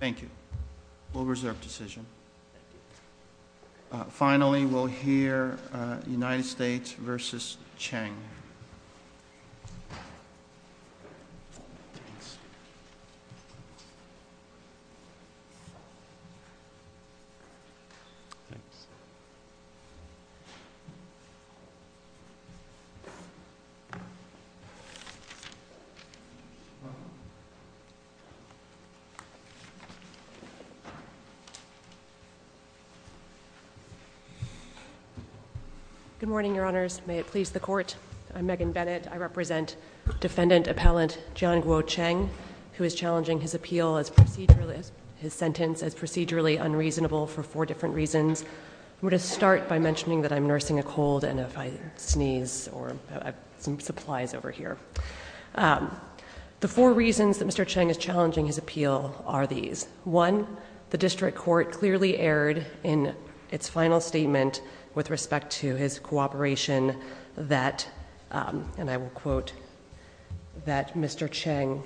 Thank you. We'll reserve the decision. Finally, we'll hear United States v. Cheng. Good morning, Your Honors. May it please the Court. I'm Megan Bennett. I represent Defendant Appellant Jianguo Cheng, who is challenging his appeal, his sentence, as procedurally unreasonable for four different reasons. I'm going to start by mentioning that I'm nursing a cold, and if I sneeze, I have some supplies over here. The four reasons that Mr. Cheng is challenging his appeal are these. One, the District Court clearly erred in its final statement with respect to his cooperation that, and I will quote, that Mr. Cheng,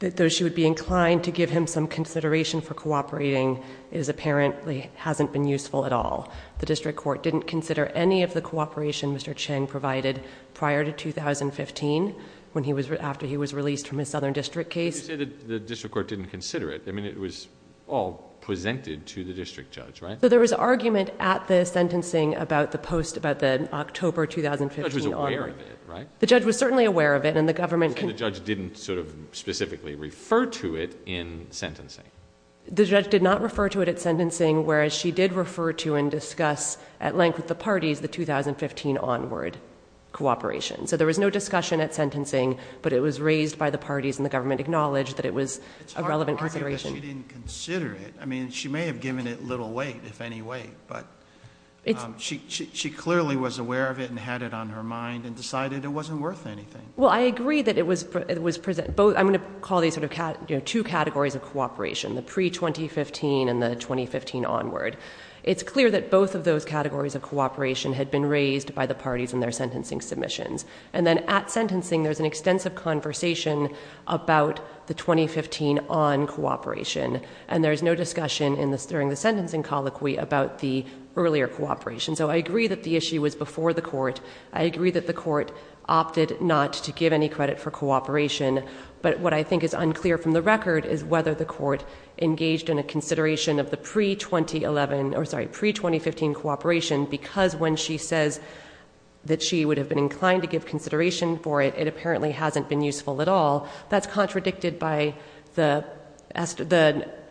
that though she would be inclined to give him some consideration for cooperating, it apparently hasn't been useful at all. The District Court didn't consider any of the cooperation Mr. Cheng provided prior to 2015, when he was... after he was released from his Southern District case. But you say that the District Court didn't consider it. I mean, it was all presented to the District Judge, right? There was argument at the sentencing about the post... about the October 2015 order. The judge was aware of it, right? The judge was certainly aware of it, and the government... And the judge didn't specifically refer to it in sentencing? The judge did not refer to it at sentencing, whereas she did refer to and discuss at length with the parties the 2015 onward cooperation. So there was no discussion at sentencing, but it was raised by the parties, and the government acknowledged that it was a relevant consideration. It's hard to argue that she didn't consider it. I mean, she may have given it little weight, if any weight, but she clearly was aware of it and had it on her mind and decided it wasn't worth anything. Well, I agree that it was... I'm going to call these two categories of cooperation, the pre-2015 and the 2015 onward. It's clear that both of those categories of cooperation had been raised by the parties in their sentencing submissions. And then at sentencing, there's an extensive conversation about the 2015 on cooperation, and there's no discussion in the... during the sentencing colloquy about the earlier cooperation. So I agree that the issue was before the court. I agree that the court opted not to give any record as to whether the court engaged in a consideration of the pre-2015 cooperation, because when she says that she would have been inclined to give consideration for it, it apparently hasn't been useful at all. That's contradicted by the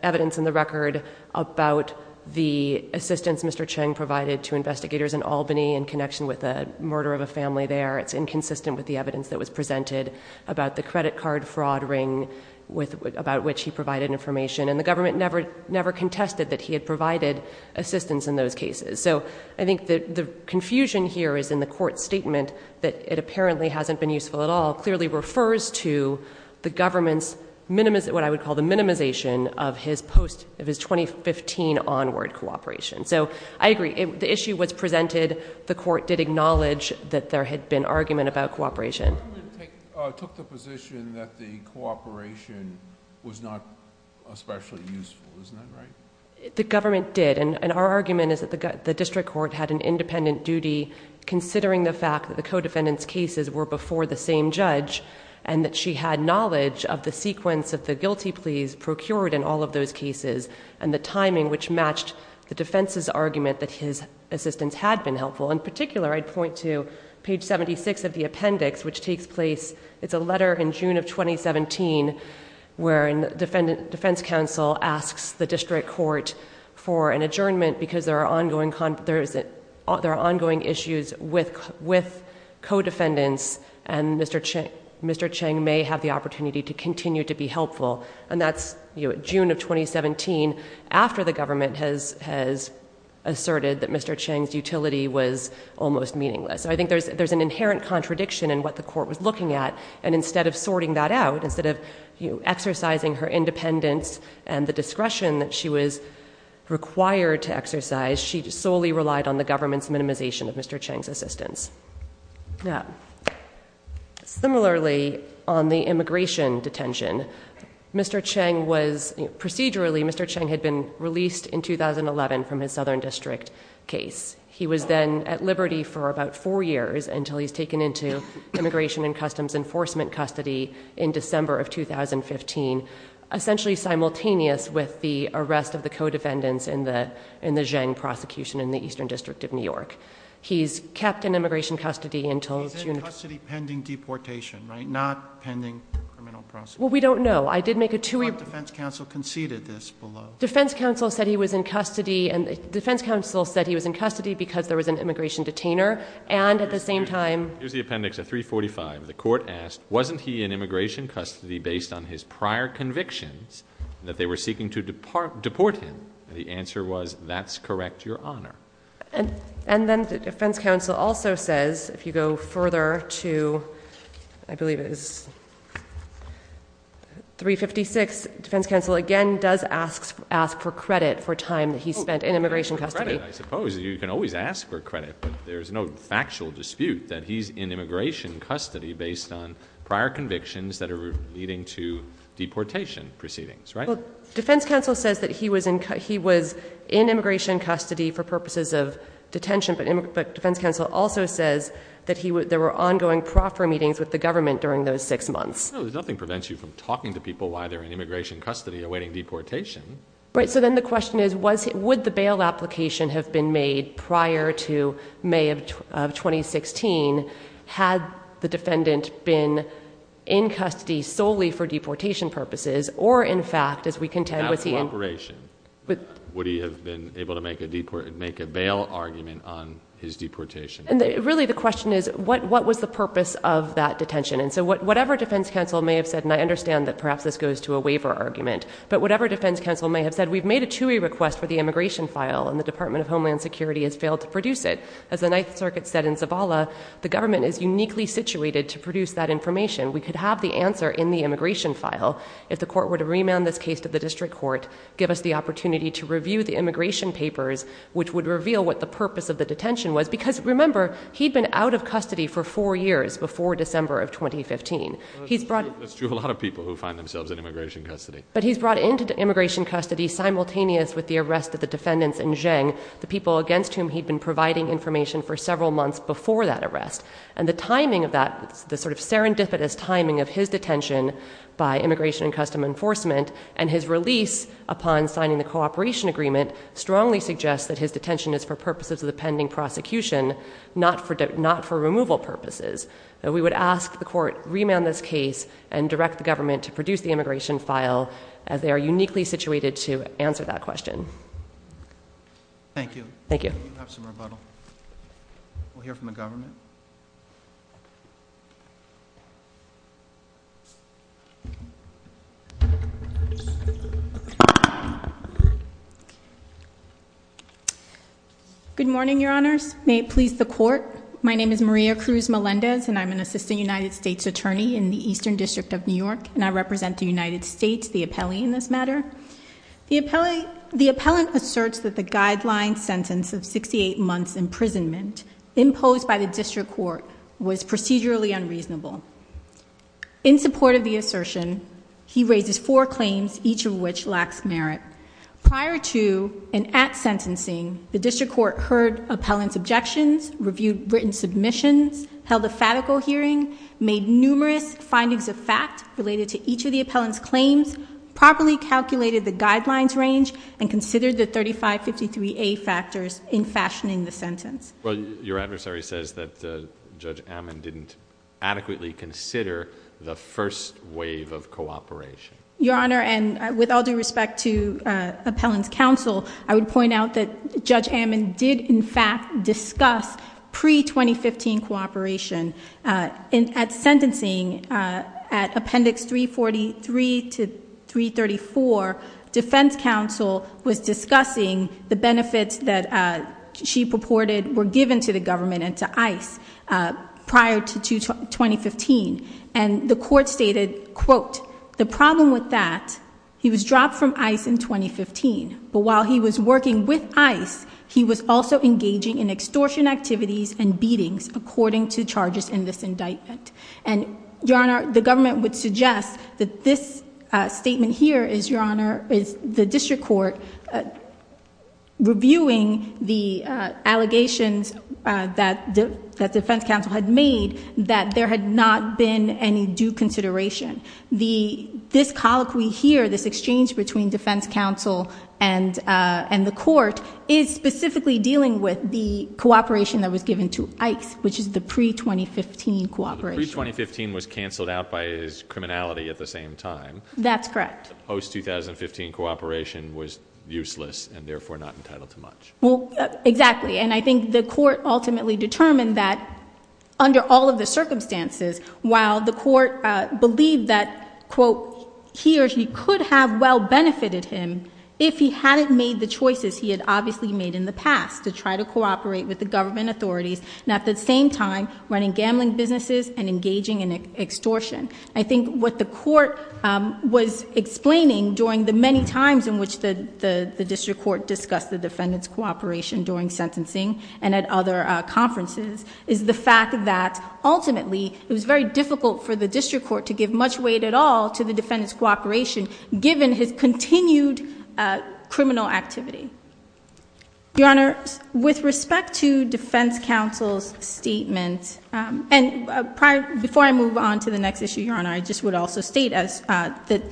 evidence in the record about the assistance Mr. Cheng provided to investigators in Albany in connection with the murder of a family there. It's inconsistent with the evidence that was presented about the credit card fraud ring with... about which he provided information. And the government never... never contested that he had provided assistance in those cases. So I think that the confusion here is in the court's statement that it apparently hasn't been useful at all clearly refers to the government's... what I would call the minimization of his post... of his 2015 onward cooperation. So I agree. The issue was presented. The court did acknowledge that there had been argument about cooperation. The government took the position that the cooperation was not especially useful. Isn't that right? The government did. And our argument is that the district court had an independent duty considering the fact that the co-defendant's cases were before the same judge and that she had knowledge of the sequence of the guilty pleas procured in all of those cases and the timing which matched the defense's argument that his assistance had been helpful. In particular, I'd point to page 76 of the appendix which takes place... it's a letter in June of 2017 wherein the defense counsel asks the district court for an adjournment because there are ongoing issues with co-defendants and Mr. Cheng may have the opportunity to continue to be helpful. And that's, you know, June of 2017 after the government has asserted that Mr. Cheng's utility was almost meaningless. So I think there's an inherent contradiction in what the court was looking at and instead of sorting that out, instead of exercising her independence and the discretion that she was required to exercise, she solely relied on the government's minimization of Mr. Cheng's assistance. Now, similarly on the immigration detention, Mr. Cheng was... procedurally, Mr. Cheng had been released in 2011 from his Southern District case. He was then at liberty for about four years until he's taken into Immigration and Customs Enforcement custody in December of 2015, essentially simultaneous with the arrest of the co-defendants in the Zheng prosecution in the Eastern District of New York. He's kept in immigration custody until... He's in custody pending deportation, right? Not pending criminal prosecution. Well, we don't know. I did make a... Defense counsel said he was in custody because there was an immigration detainer and at the same time... Here's the appendix at 345. The court asked, wasn't he in immigration custody based on his prior convictions that they were seeking to deport him? The answer was, that's correct, Your Honor. And then the defense counsel also says, if you go further to, I believe it is... 356, defense counsel again does ask for credit for time that he spent in immigration custody. Oh, credit, I suppose. You can always ask for credit, but there's no factual dispute that he's in immigration custody based on prior convictions that are leading to deportation proceedings, right? Defense counsel says that he was in immigration custody for purposes of detention, but defense counsel also says that there were ongoing proffer meetings with the government during those six months. No, nothing prevents you from talking to people while they're in immigration custody awaiting deportation. Right, so then the question is, would the bail application have been made prior to May of 2016 had the defendant been in custody solely for deportation purposes or in fact, as we contend... Without cooperation. Would he have been able to make a bail argument on his deportation? Really the question is, what was the purpose of that detention? And so whatever defense counsel may have said, and I understand that perhaps this goes to a waiver argument, but whatever defense counsel may have said, we've made a TUI request for the immigration file and the Department of Homeland Security has failed to produce it. As the Ninth Circuit said in Zabala, the government is uniquely situated to produce that information. We could have the answer in the immigration file if the court were to remand this case to the district court, give us the opportunity to review the immigration papers, which would reveal what the purpose of the detention was. Because remember, he'd been out of custody for four years before December of 2015. He's brought... That's true of a lot of people who find themselves in immigration custody. But he's brought into immigration custody simultaneous with the arrest of the defendants in Zheng, the people against whom he'd been providing information for several months before that arrest. And the timing of that, the sort of serendipitous timing of his detention by Immigration and Customs Enforcement and his release upon signing the cooperation agreement strongly suggests that his detention is for purposes of the pending prosecution, not for removal purposes. We would ask the court remand this case and direct the government to produce the immigration file as they are uniquely situated to answer that question. Thank you. Thank you. We'll have some rebuttal. We'll hear from the government. Good morning, your honors. May it please the court. My name is Maria Cruz Melendez and I'm an assistant United States attorney in the Eastern District of New York and I represent the United States, the appellee in this matter. The appellate asserts that the guideline sentence of 68 months imprisonment imposed by the district court was procedurally unreasonable. In support of the assertion, he raises four claims, each of which lacks merit. Prior to and at sentencing, the district court heard appellant's objections, reviewed written submissions, held a fatical hearing, made numerous findings of fact related to each of the appellant's claims, properly calculated the guidelines range and considered the 3553A factors in fashioning the sentence. Your adversary says that Judge Ammon didn't adequately consider the first wave of cooperation. Your honor, and with all due respect to appellant's counsel, I would point out that Judge Ammon did in fact discuss pre-2015 cooperation. At sentencing, at appendix 343 to 334, defense counsel was discussing the benefits that she purported were given to the government and to ICE prior to 2015 and the court stated, quote, the problem with that, he was dropped from ICE in 2015, but while he was working with ICE, he was also engaging in extortion activities and beatings according to charges in this indictment. And your honor, the government would suggest that this statement here is, your honor, is the district court reviewing the allegations that defense counsel had made that there had not been any due consideration. This colloquy here, this exchange between defense counsel and the court is specifically dealing with the cooperation that was given to ICE, which is the pre-2015 cooperation. Pre-2015 was canceled out by his criminality at the same time. That's correct. Post-2015 cooperation was useless and therefore not entitled to much. Well, exactly. And I think the court ultimately determined that under all of the circumstances, while the court believed that, quote, he or she could have well benefited him if he hadn't made the choices he had obviously made in the past to try to cooperate with the government authorities and at the same time running gambling businesses and engaging in extortion. I think what the court was explaining during the many times in which the district court discussed the defendant's cooperation during sentencing and at other conferences is the fact that ultimately it was very difficult for the district court to give much weight at all to the defendant's cooperation given his continued criminal activity. Your Honor, with respect to defense counsel's statement, and prior, before I move on to the next issue, Your Honor, I just would also state that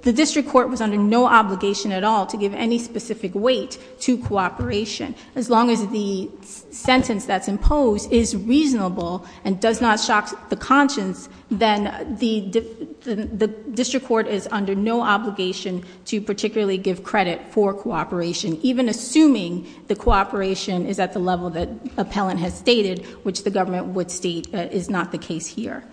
the district court was under no obligation at all to give any specific weight to cooperation. As long as the sentence that's imposed is reasonable and does not shock the conscience, then the district court is under no obligation to particularly give credit for cooperation. Even assuming the cooperation is at the level that appellant has stated, which the government would state is not the case here.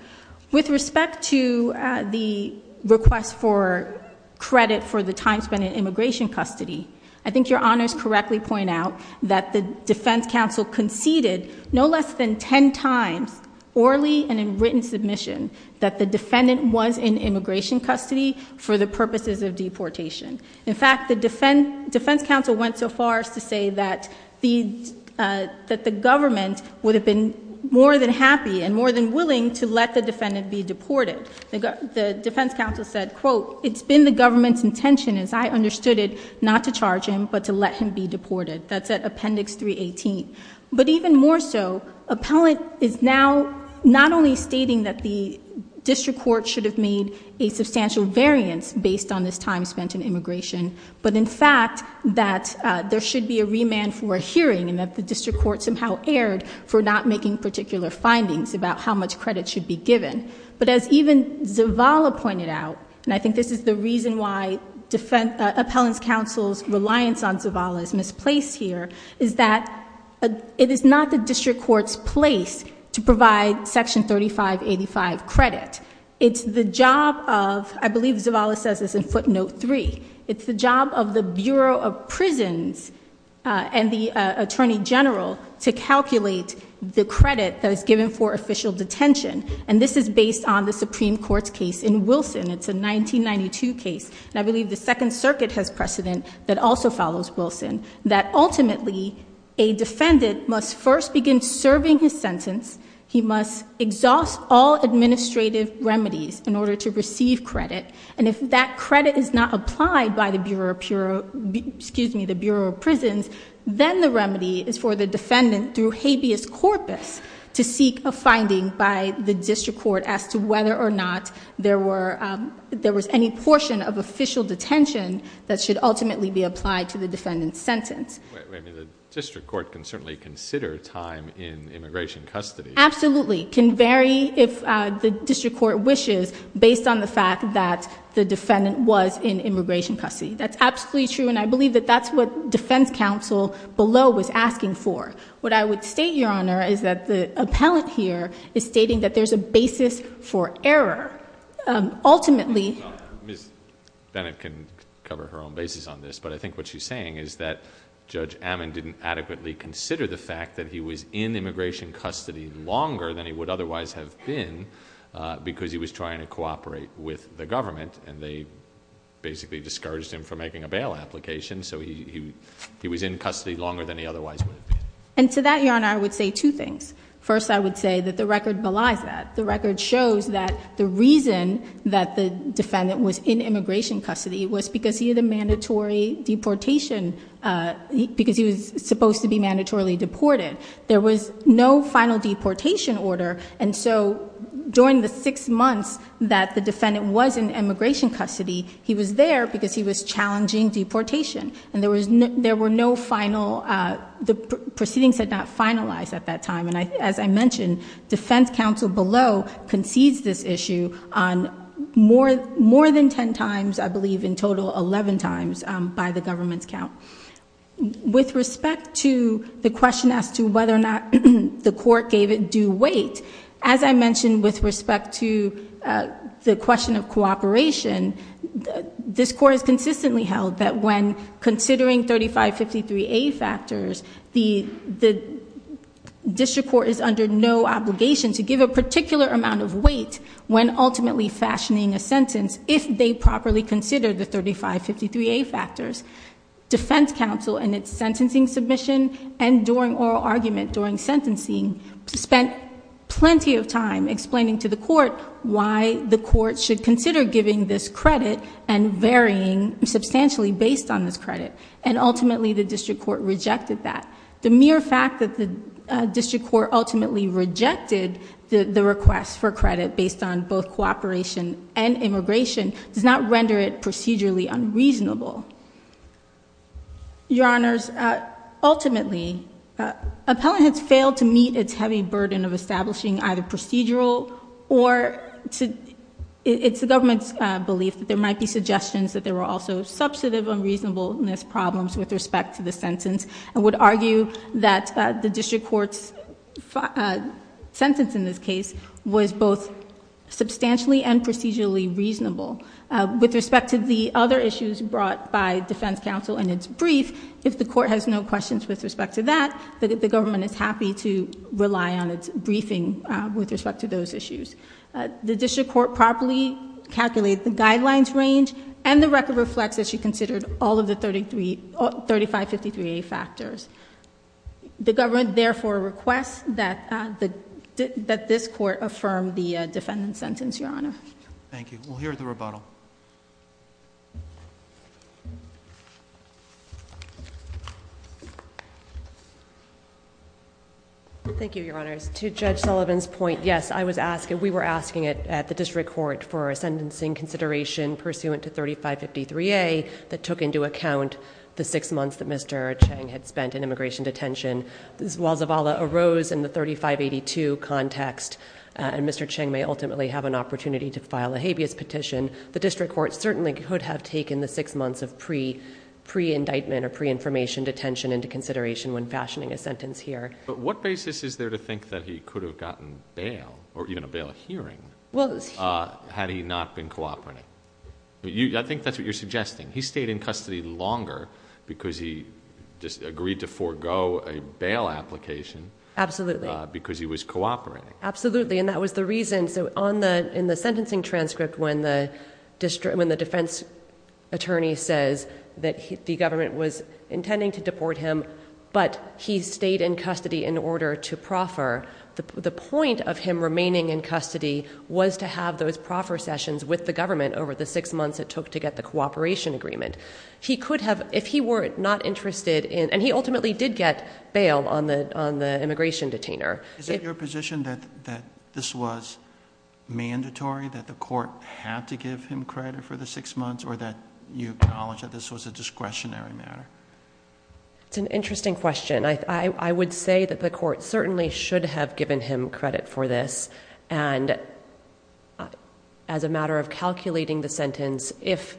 With respect to the request for credit for the time spent in immigration custody, I think Your Honors correctly point out that the defense counsel conceded no less than ten times, orally and in written submission, that the defendant was in immigration custody for the purposes of deportation. In fact, the defense counsel went so far as to say that the government would have been more than happy and more than willing to let the defendant be deported. The defense counsel said, quote, it's been the government's intention, as I understood it, not to charge him, but to let him be deported. That's at appendix 318. But even more so, appellant is now not only stating that the district court should have made a substantial variance based on this time spent in immigration, but in fact, that there should be a remand for a hearing, and that the district court somehow erred for not making particular findings about how much credit should be given. But as even Zavala pointed out, and I think this is the reason why appellant's counsel's reliance on Zavala is misplaced here, is that it is not the district court's place to provide section 3585 credit. It's the job of, I believe Zavala says this in footnote three, it's the job of the Bureau of Prisons and the Attorney General to calculate the credit that is given for official detention. And this is based on the Supreme Court's case in Wilson. It's a 1992 case, and I believe the Second Circuit has precedent that also follows Wilson. That ultimately, a defendant must first begin serving his sentence. He must exhaust all administrative remedies in order to receive credit. And if that credit is not applied by the Bureau of Prisons, then the remedy is for the defendant through habeas corpus to seek a finding by the district court as to whether or not there was any portion of official detention that should ultimately be applied to the defendant's sentence. Wait, wait, the district court can certainly consider time in immigration custody. Absolutely, can vary if the district court wishes, based on the fact that the defendant was in immigration custody. That's absolutely true, and I believe that that's what defense counsel below was asking for. What I would state, Your Honor, is that the appellant here is stating that there's a basis for error. Ultimately- Ms. Bennett can cover her own basis on this, but I think what she's saying is that Judge Ammon didn't adequately consider the fact that he was in immigration custody longer than he would otherwise have been. Because he was trying to cooperate with the government, and they basically discouraged him from making a bail application. So he was in custody longer than he otherwise would have been. And to that, Your Honor, I would say two things. First, I would say that the record belies that. The record shows that the reason that the defendant was in immigration custody was because he had a mandatory deportation. Because he was supposed to be mandatorily deported. There was no final deportation order. And so during the six months that the defendant was in immigration custody, he was there because he was challenging deportation. And there were no final, the proceedings had not finalized at that time. And as I mentioned, defense counsel below concedes this issue on more than ten times, I believe, in total, 11 times by the government's count. With respect to the question as to whether or not the court gave it due weight, as I mentioned with respect to the question of cooperation, this court has consistently held that when considering 3553A factors, the district court is under no obligation to give a particular amount of weight when ultimately fashioning a sentence if they properly consider the 3553A factors. Defense counsel in its sentencing submission and during oral argument, during sentencing, spent plenty of time explaining to the court why the court should consider giving this credit and varying substantially based on this credit. And ultimately, the district court rejected that. The mere fact that the district court ultimately rejected the request for credit based on both cooperation and immigration does not render it procedurally unreasonable. Your honors, ultimately, appellant has failed to meet its heavy burden of establishing either procedural or It's the government's belief that there might be suggestions that there were also substantive unreasonableness problems with respect to the sentence. I would argue that the district court's sentence in this case was both substantially and procedurally reasonable. With respect to the other issues brought by defense counsel in its brief, if the court has no questions with respect to that, the government is happy to rely on its briefing with respect to those issues. The district court properly calculated the guidelines range and the record reflects that she considered all of the 3553A factors. The government, therefore, requests that this court affirm the defendant's sentence, your honor. Thank you. We'll hear the rebuttal. Thank you, your honors. To Judge Sullivan's point, yes, I was asking, we were asking it at the district court for a sentencing consideration pursuant to 3553A that took into account the six months that Mr. Chang had spent in immigration detention. While Zavala arose in the 3582 context, and Mr. Chang may ultimately have an opportunity to file a habeas petition. The district court certainly could have taken the six months of pre-indictment or pre-information detention into consideration when fashioning a sentence here. But what basis is there to think that he could have gotten bail, or even a bail hearing, had he not been cooperating? I think that's what you're suggesting. He stayed in custody longer because he just agreed to forego a bail application. Absolutely. Because he was cooperating. Absolutely, and that was the reason. So in the sentencing transcript when the defense attorney says that the government was intending to deport him, but he stayed in custody in order to proffer, the point of him remaining in custody was to have those proffer sessions with the government over the six months it took to get the cooperation agreement. He could have, if he were not interested in, and he ultimately did get bail on the immigration detainer. Is it your position that this was mandatory, that the court had to give him credit for the six months, or that you acknowledge that this was a discretionary matter? It's an interesting question. I would say that the court certainly should have given him credit for this. And as a matter of calculating the sentence, if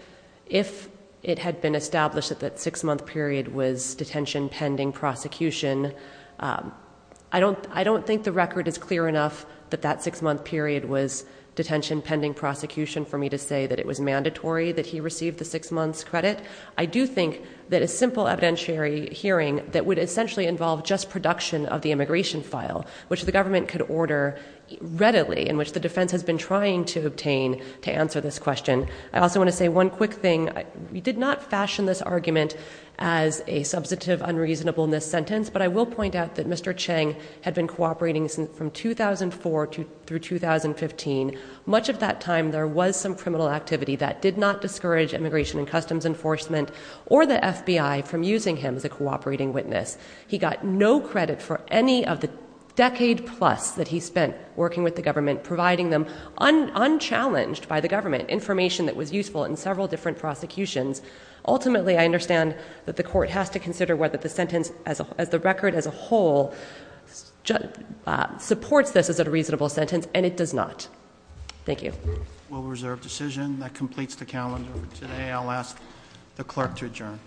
it had been established that that six month period was detention pending prosecution, I don't think the record is clear enough that that six month period was detention pending prosecution for me to say that it was mandatory that he received the six months credit. I do think that a simple evidentiary hearing that would essentially involve just production of the immigration file, which the government could order readily, in which the defense has been trying to obtain to answer this question. I also want to say one quick thing, we did not fashion this argument as a substantive unreasonable in this sentence, but I will point out that Mr. Chang had been cooperating from 2004 through 2015. Much of that time there was some criminal activity that did not discourage immigration and customs enforcement or the FBI from using him as a cooperating witness. He got no credit for any of the decade plus that he spent working with the government, providing them unchallenged by the government, information that was useful in several different prosecutions. Ultimately, I understand that the court has to consider whether the sentence as the record as a whole supports this as a reasonable sentence, and it does not. Thank you. We'll reserve decision. That completes the calendar for today. I'll ask the clerk to adjourn. Court is adjourned.